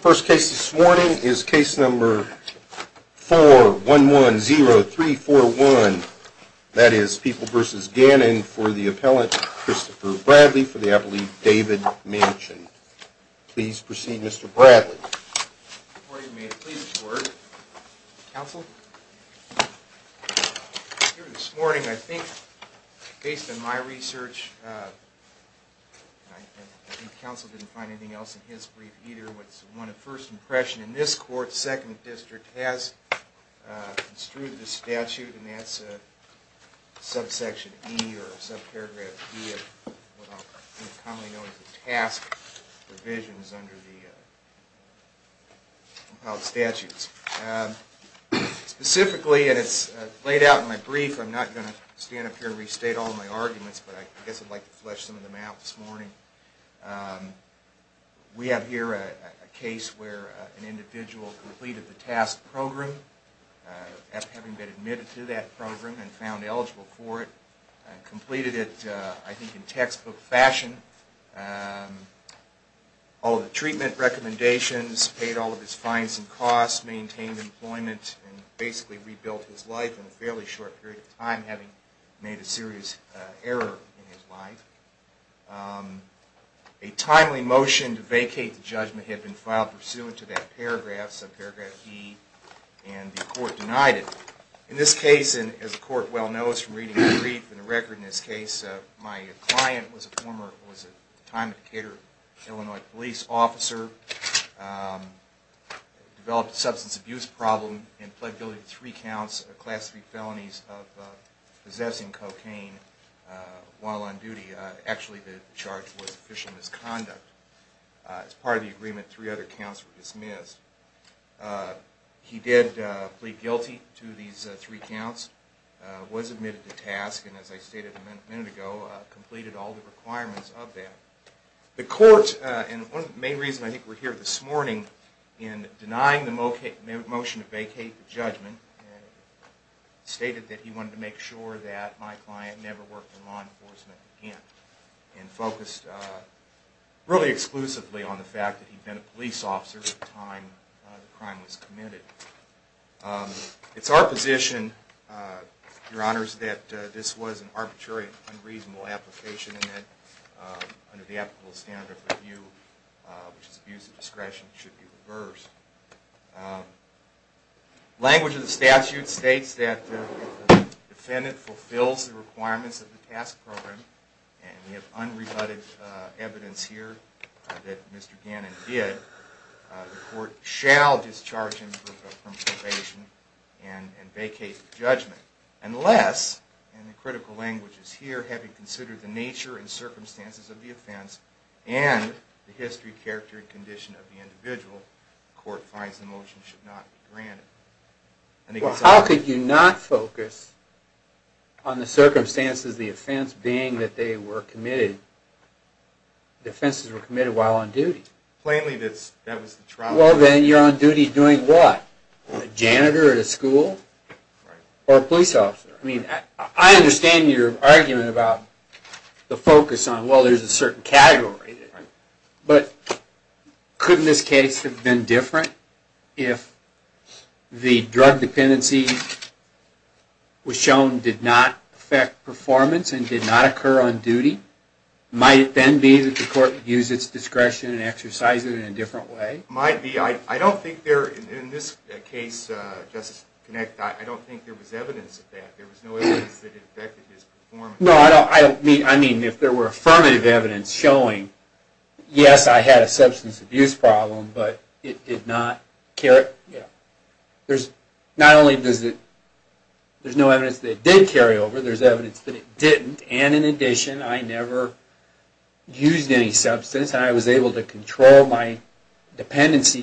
First case this morning is case number 4110341. That is People v. Gannon for the appellant Christopher Bradley for the appellate David Manchin. Please proceed Mr. Bradley. Before you may it please the court, counsel, here this morning I think, based on my research, I think counsel didn't find anything else in his brief either, what's one of first impression in this court, second district has construed the statute and that's subsection E or subparagraph E of what I'll commonly know as the task provisions under the compiled statutes. Specifically, and it's laid out in my brief, I'm not going to stand up here and restate all my arguments, but I guess I'd like to flesh some of them out this morning. We have here a case where an individual completed the task program, after having been admitted to that program and found eligible for it, completed it I think in textbook fashion, all of the treatment recommendations, paid all of his fines and costs, maintained employment and basically rebuilt his life in a fairly short period of time having made a serious error in his life. A timely motion to vacate the judgment had been filed pursuant to that paragraph, subparagraph E, and the court denied it. In this case, and as the court well knows from reading the brief and the record in this case, my client was a former, was at the time a Decatur, Illinois police officer, developed a substance abuse problem and pled guilty to three counts of class 3 felonies of possessing cocaine while on duty. Actually, the charge was official misconduct. As part of the agreement, three other counts were dismissed. He did plead guilty to these three counts, was admitted to task, and as I stated a minute ago, completed all the requirements of that. The court, and one of the main reasons I think we're here this morning in denying the motion to vacate the judgment, stated that he wanted to make sure that my client never worked in law enforcement again and focused really exclusively on the fact that he'd been a police officer at the time the crime was committed. It's our position, Your Honors, that this was an arbitrary and unreasonable application and that under the applicable standard of review, which is abuse of discretion, it should be reversed. Language of the statute states that if the defendant fulfills the requirements of the task program, and we have unrebutted evidence here that Mr. Gannon did, the court shall discharge him from probation and vacate the judgment. Unless, in the critical languages here, having considered the nature and circumstances of the offense and the history, character, and condition of the individual, the court finds the motion should not be granted. Well, how could you not focus on the circumstances of the offense being that the offenses were committed while on duty? Plainly, that was the trial... Well, then you're on duty doing what? A janitor at a school? Or a police officer? I mean, I understand your argument about the focus on, well, there's a certain category, but couldn't this case have been different if the drug dependency was shown did not affect performance and did not occur on duty? Might it then be that the court would use its discretion and exercise it in a different way? Might be. I don't think there, in this case, Justice Kinect, I don't think there was evidence of that. There was no evidence that it affected his performance. No, I mean, if there were affirmative evidence showing, yes, I had a substance abuse problem, but it did not...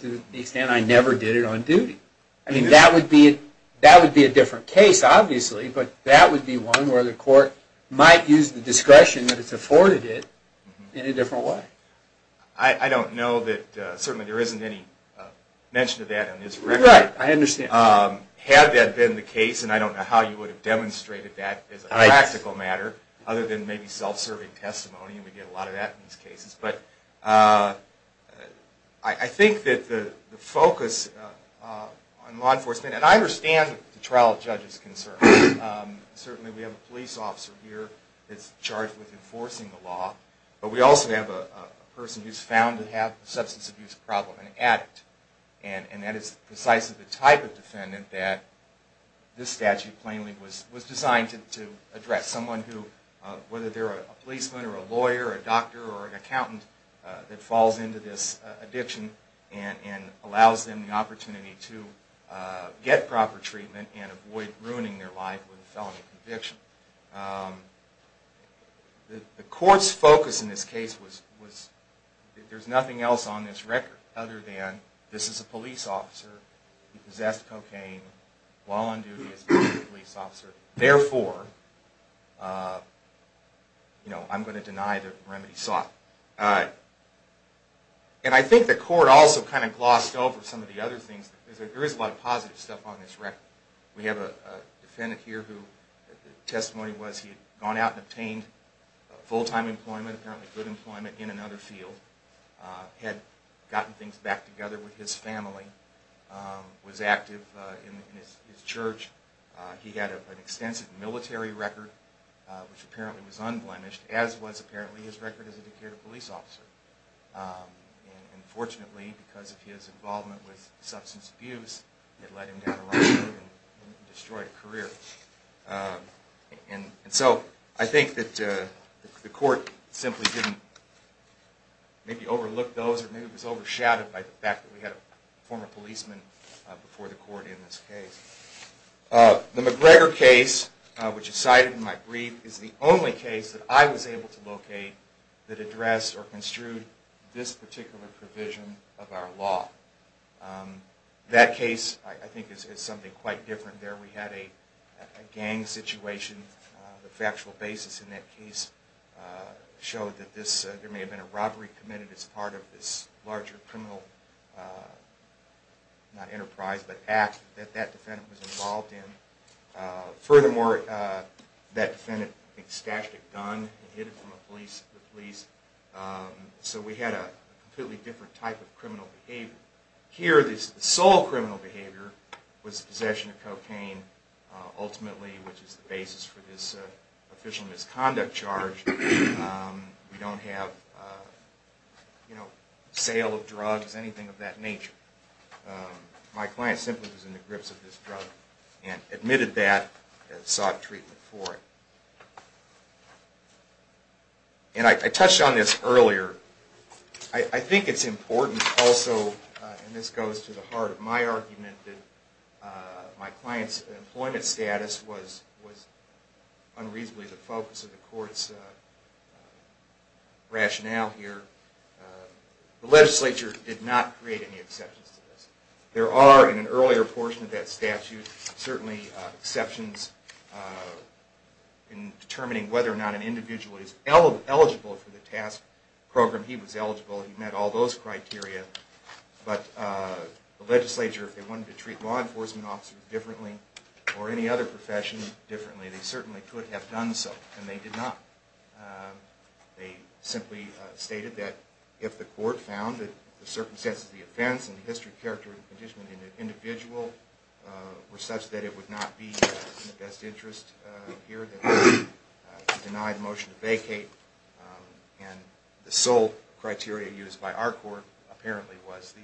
to the extent I never did it on duty. I mean, that would be a different case, obviously, but that would be one where the court might use the discretion that it's afforded it in a different way. I don't know that, certainly there isn't any mention of that on this record. Right, I understand. Had that been the case, and I don't know how you would have demonstrated that as a practical matter, other than maybe self-serving testimony, and we get a lot of that in these cases. But I think that the focus on law enforcement, and I understand the trial judge's concern. Certainly we have a police officer here that's charged with enforcing the law, but we also have a person who's found to have a substance abuse problem, an addict. And that is precisely the type of defendant that this statute plainly was designed to address. Someone who, whether they're a policeman or a lawyer or a doctor or an accountant, that falls into this addiction and allows them the opportunity to get proper treatment and avoid ruining their life with a felony conviction. The court's focus in this case was that there's nothing else on this record other than this is a police officer, he possessed cocaine while on duty as a police officer, therefore, you know, I'm going to deny the remedy sought. And I think the court also kind of glossed over some of the other things, because there is a lot of positive stuff on this record. We have a defendant here whose testimony was he had gone out and obtained full-time employment, apparently good employment, in another field, had gotten things back together with his family, was active in his church. He had an extensive military record, which apparently was unblemished, as was apparently his record as a Decatur police officer. And fortunately, because of his involvement with substance abuse, it led him down the wrong road and destroyed a career. And so I think that the court simply didn't maybe overlook those, or maybe it was overshadowed by the fact that we had a former policeman before the court in this case. The McGregor case, which is cited in my brief, is the only case that I was able to locate that addressed or construed this particular provision of our law. That case, I think, is something quite different there. We had a gang situation. The factual basis in that case showed that there may have been a robbery committed as part of this larger criminal, not enterprise, but act that that defendant was involved in. Furthermore, that defendant, I think, stashed a gun and hid it from the police. So we had a completely different type of criminal behavior. Here, the sole criminal behavior was possession of cocaine, ultimately, which is the basis for this official misconduct charge. We don't have sale of drugs, anything of that nature. My client simply was in the grips of this drug and admitted that and sought treatment for it. And I touched on this earlier. I think it's important also, and this goes to the heart of my argument, that my client's employment status was unreasonably the focus of the court's rationale here. The legislature did not create any exceptions to this. There are, in an earlier portion of that statute, certainly exceptions in determining whether or not an individual is eligible for the task program. He was eligible. He met all those criteria, but the legislature, if they wanted to treat law enforcement officers differently or any other profession differently, they certainly could have done so. And they did not. They simply stated that if the court found that the circumstances of the offense and the history, character, and condition of the individual were such that it would not be in the best interest here, then they could deny the motion to vacate. And the sole criteria used by our court, apparently, was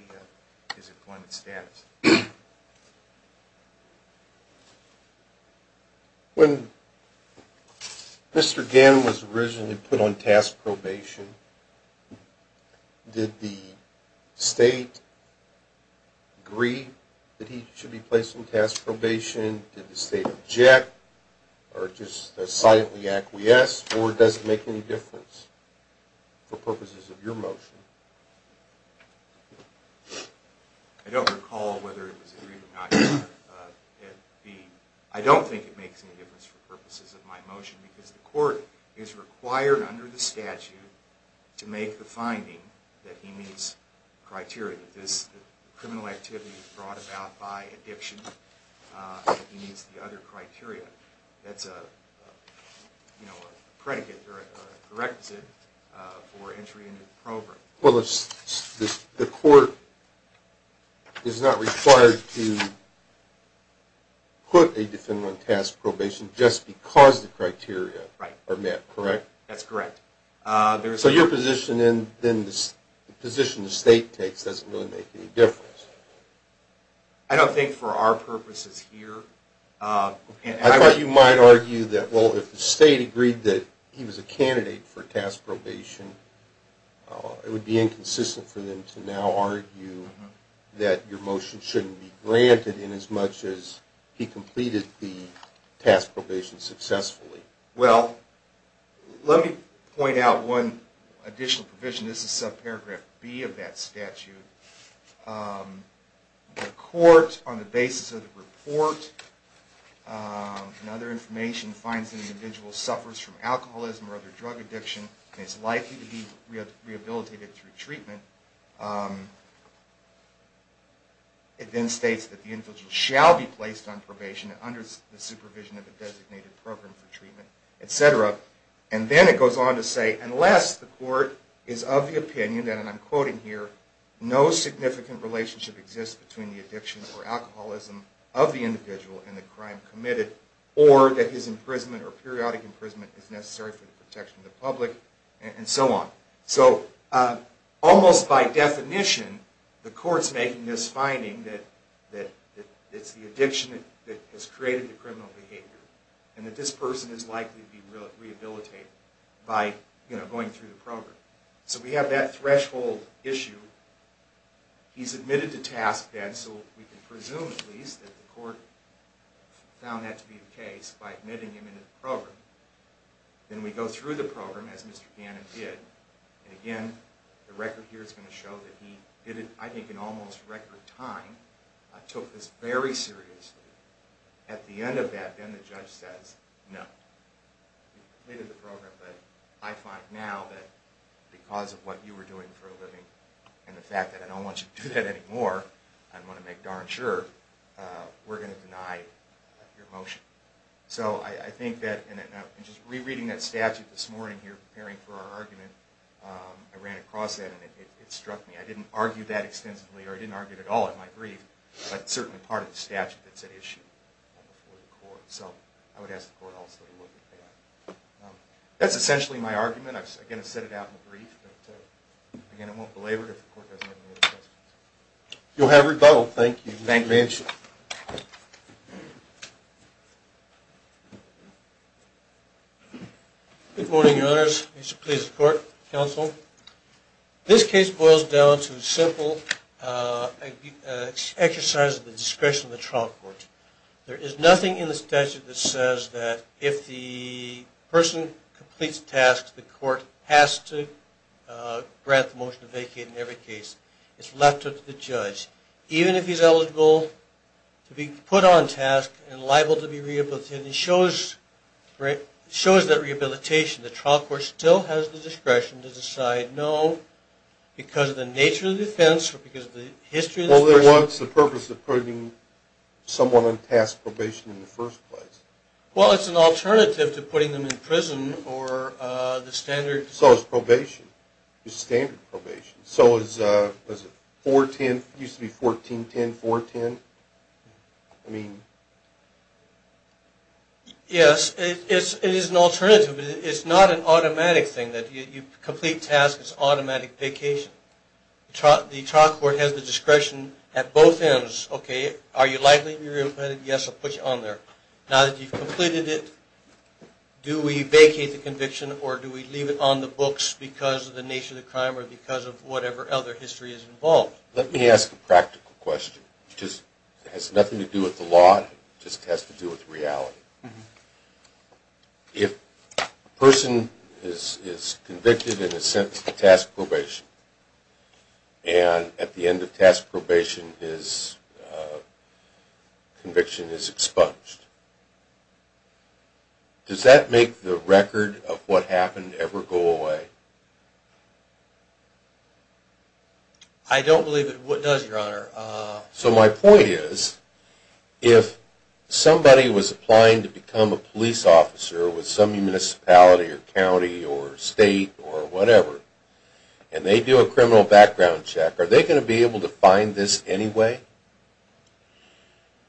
his employment status. When Mr. Gannon was originally put on task probation, did the state agree that he should be placed on task probation? Did the state object or just silently acquiesce, or does it make any difference for purposes of your motion? I don't recall whether it was agreed or not. I don't think it makes any difference for purposes of my motion, because the court is required under the statute to make the finding that he meets criteria. This criminal activity brought about by addiction, that he meets the other criteria. That's a predicate or a prerequisite for entry into the program. Well, the court is not required to put a defendant on task probation just because the criteria are met, correct? That's correct. So your position, then the position the state takes, doesn't really make any difference? I don't think for our purposes here. I thought you might argue that, well, if the state agreed that he was a candidate for task probation, it would be inconsistent for them to now argue that your motion shouldn't be granted in as much as he completed the task probation successfully. Well, let me point out one additional provision. This is subparagraph B of that statute. The court, on the basis of the report and other information, finds that an individual suffers from alcoholism or other drug addiction and is likely to be rehabilitated through treatment. It then states that the individual shall be placed on probation under the supervision of a designated program for treatment, etc. And then it goes on to say, unless the court is of the opinion that, and I'm quoting here, no significant relationship exists between the addiction or alcoholism of the individual and the crime committed, or that his imprisonment or periodic imprisonment is necessary for the protection of the public, and so on. So almost by definition, the court's making this finding that it's the addiction that has created the criminal behavior, and that this person is likely to be rehabilitated by going through the program. So we have that threshold issue. He's admitted to task then, so we can presume at least that the court found that to be the case by admitting him into the program. Then we go through the program, as Mr. Gannon did. And again, the record here is going to show that he did it, I think, in almost record time, took this very seriously. At the end of that, then the judge says, no. He completed the program, but I find now that because of what you were doing for a living, and the fact that I don't want you to do that anymore, I want to make darn sure, we're going to deny your motion. So I think that, and just rereading that statute this morning here, preparing for our argument, I ran across that, and it struck me. I didn't argue that extensively, or I didn't argue it at all in my brief, but it's certainly part of the statute that's at issue before the court. So I would ask the court also to look at that. That's essentially my argument. I'm going to set it out in the brief, but again, I won't belabor it if the court doesn't have any other questions. You'll have rebuttal. Thank you. Thank you very much. Good morning, Your Honors. Mr. Pleasant Court, Counsel. This case boils down to a simple exercise of the discretion of the trial court. There is nothing in the statute that says that if the person completes tasks, the court has to grant the motion to vacate in every case. It's left up to the judge. Even if he's eligible to be put on task and liable to be rehabilitated, it shows that rehabilitation, the trial court still has the discretion to decide no, because of the nature of the offense or because of the history of the person. Well, then what's the purpose of putting someone on task probation in the first place? Well, it's an alternative to putting them in prison or the standard. So it's probation. It's standard probation. So is it 4-10, it used to be 14-10, 4-10? Yes, it is an alternative. It's not an automatic thing that you complete tasks, it's automatic vacation. The trial court has the discretion at both ends, okay, are you liable to be rehabilitated? Yes, I'll put you on there. Now that you've completed it, do we vacate the conviction or do we leave it on the books because of the nature of the crime or because of whatever other history is involved? Well, let me ask a practical question. It has nothing to do with the law, it just has to do with reality. If a person is convicted and is sentenced to task probation, and at the end of task probation his conviction is expunged, does that make the record of what happened ever go away? I don't believe it does, Your Honor. So my point is, if somebody was applying to become a police officer with some municipality or county or state or whatever, and they do a criminal background check, are they going to be able to find this anyway?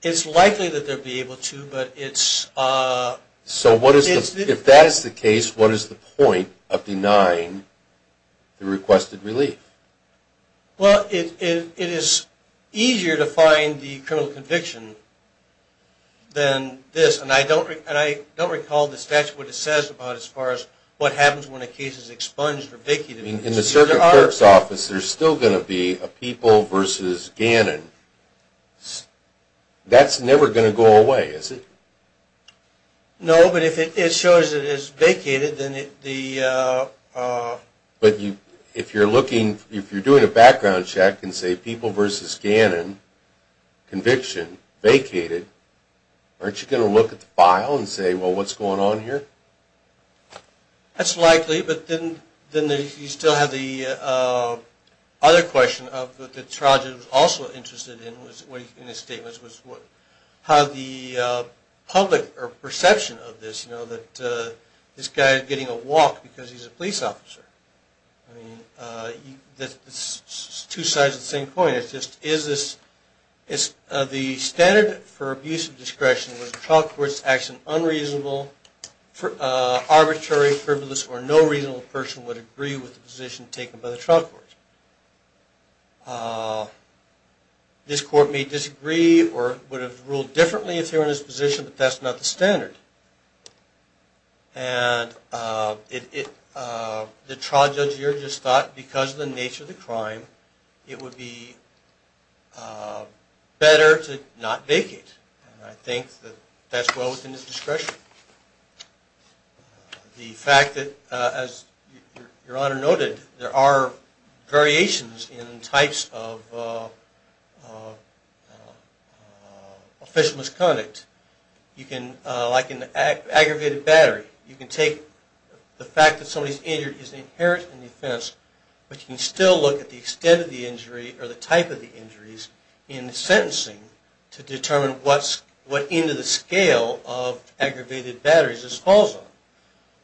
It's likely that they'll be able to, but it's... So if that is the case, what is the point of denying the requested relief? Well, it is easier to find the criminal conviction than this, and I don't recall in the statute what it says as far as what happens when a case is expunged or vacated. In a certain clerk's office, there's still going to be a People v. Gannon. That's never going to go away, is it? No, but if it shows it is vacated, then the... But if you're doing a background check and say People v. Gannon, conviction, vacated, aren't you going to look at the file and say, well, what's going on here? That's likely, but then you still have the other question that Traj was also interested in in his statements, was how the public perception of this, that this guy is getting a walk because he's a police officer. I mean, it's two sides of the same coin. The standard for abuse of discretion was a trial court's action unreasonable, arbitrary, frivolous, or no reasonable person would agree with the position taken by the trial court. This court may disagree or would have ruled differently if they were in this position, but that's not the standard. And the trial judge here just thought because of the nature of the crime, it would be better to not vacate. And I think that that's well within his discretion. The fact that, as Your Honor noted, there are variations in types of official misconduct, like an aggravated battery. You can take the fact that somebody's injured is inherent in the offense, but you can still look at the extent of the injury or the type of the injuries in sentencing to determine what end of the scale of aggravated batteries this falls on.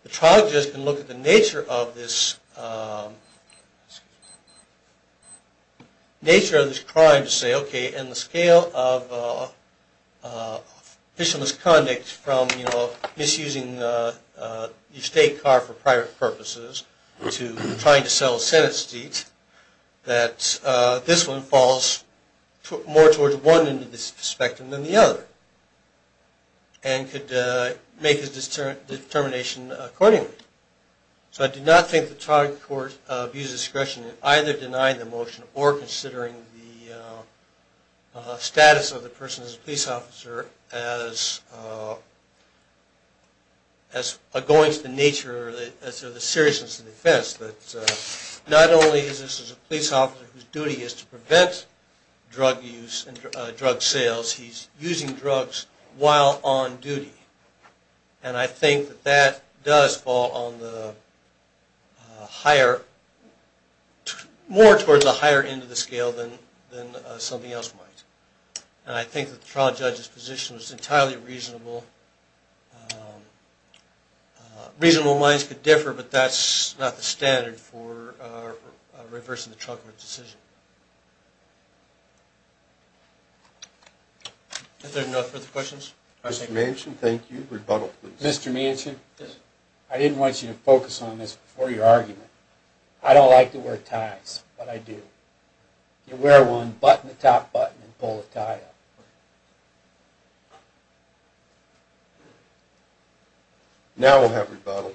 The trial judge can look at the nature of this crime to say, okay, in the scale of official misconduct from misusing your state car for private purposes to trying to sell a Senate seat, that this one falls more towards one end of the spectrum than the other and could make his determination accordingly. So I do not think the trial court views discretion in either denying the motion or considering the status of the person as a police officer as going to the nature or the seriousness of the offense. Not only is this a police officer whose duty is to prevent drug use and drug sales, he's using drugs while on duty. And I think that that does fall more towards the higher end of the scale than something else might. And I think that the trial judge's position was entirely reasonable. Reasonable minds could differ, but that's not the standard for reversing the trial court decision. If there are no further questions. Mr. Manchin, I didn't want you to focus on this before your argument. I don't like to wear ties, but I do. You wear one, button the top button, and pull the tie up. Now we'll have rebuttal.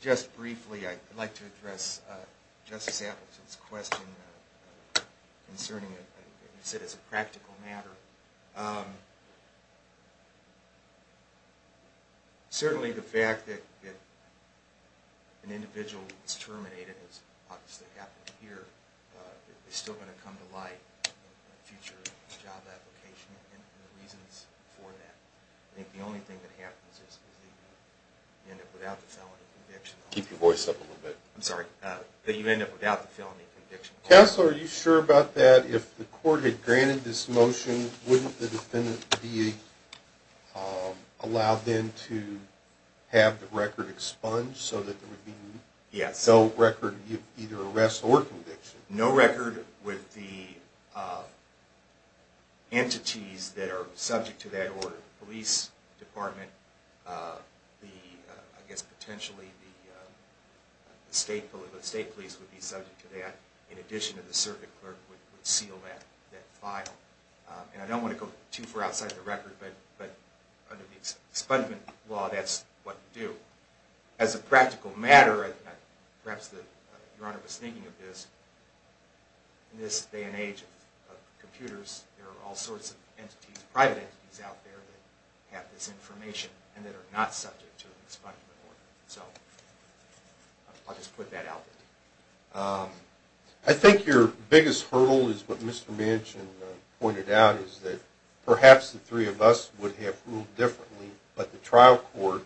Just briefly, I'd like to address Justice Appleton's question concerning it as a practical matter. Certainly the fact that an individual is terminated, as obviously happened here, is still going to come to light in a future job application and the reasons for that. I think the only thing that happens is that you end up without the felony conviction. Counselor, are you sure about that? If the court had granted this motion, wouldn't the defendant be allowed then to have the record expunged so that there would be no record of either arrest or conviction? No record with the entities that are subject to that order. The police department, I guess potentially the state police would be subject to that. In addition, the circuit clerk would seal that file. I don't want to go too far outside the record, but under the expungement law, that's what you do. As a practical matter, perhaps Your Honor was thinking of this, in this day and age of computers, there are all sorts of private entities out there that have this information and that are not subject to an expungement order. I'll just put that out there. I think your biggest hurdle is what Mr. Manchin pointed out, is that perhaps the three of us would have ruled differently, but the trial court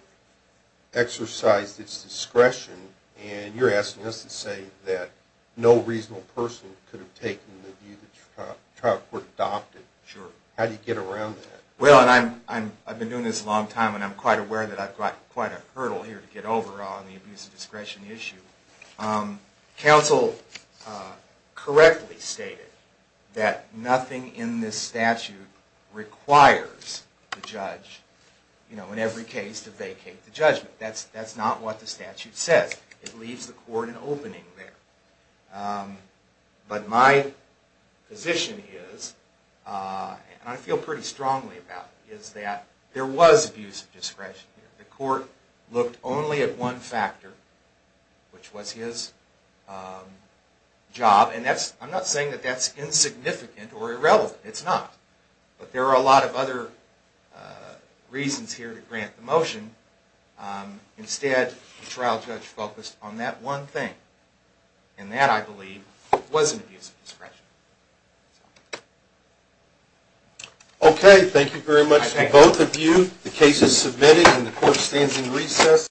exercised its discretion and you're asking us to say that no reasonable person could have taken the view that the trial court adopted. How do you get around that? Well, I've been doing this a long time and I'm quite aware that I've got quite a hurdle here to get over on the abuse of discretion issue. Counsel correctly stated that nothing in this statute requires the judge, in every case, to vacate the judgment. That's not what the statute says. It leaves the court an opening there. But my position is, and I feel pretty strongly about it, is that there was abuse of discretion here. The court looked only at one factor, which was his job, and I'm not saying that that's insignificant or irrelevant. It's not. But there are a lot of other reasons here to grant the motion. Instead, the trial judge focused on that one thing. And that, I believe, was an abuse of discretion. Okay, thank you very much to both of you. The case is submitted and the court stands in recess.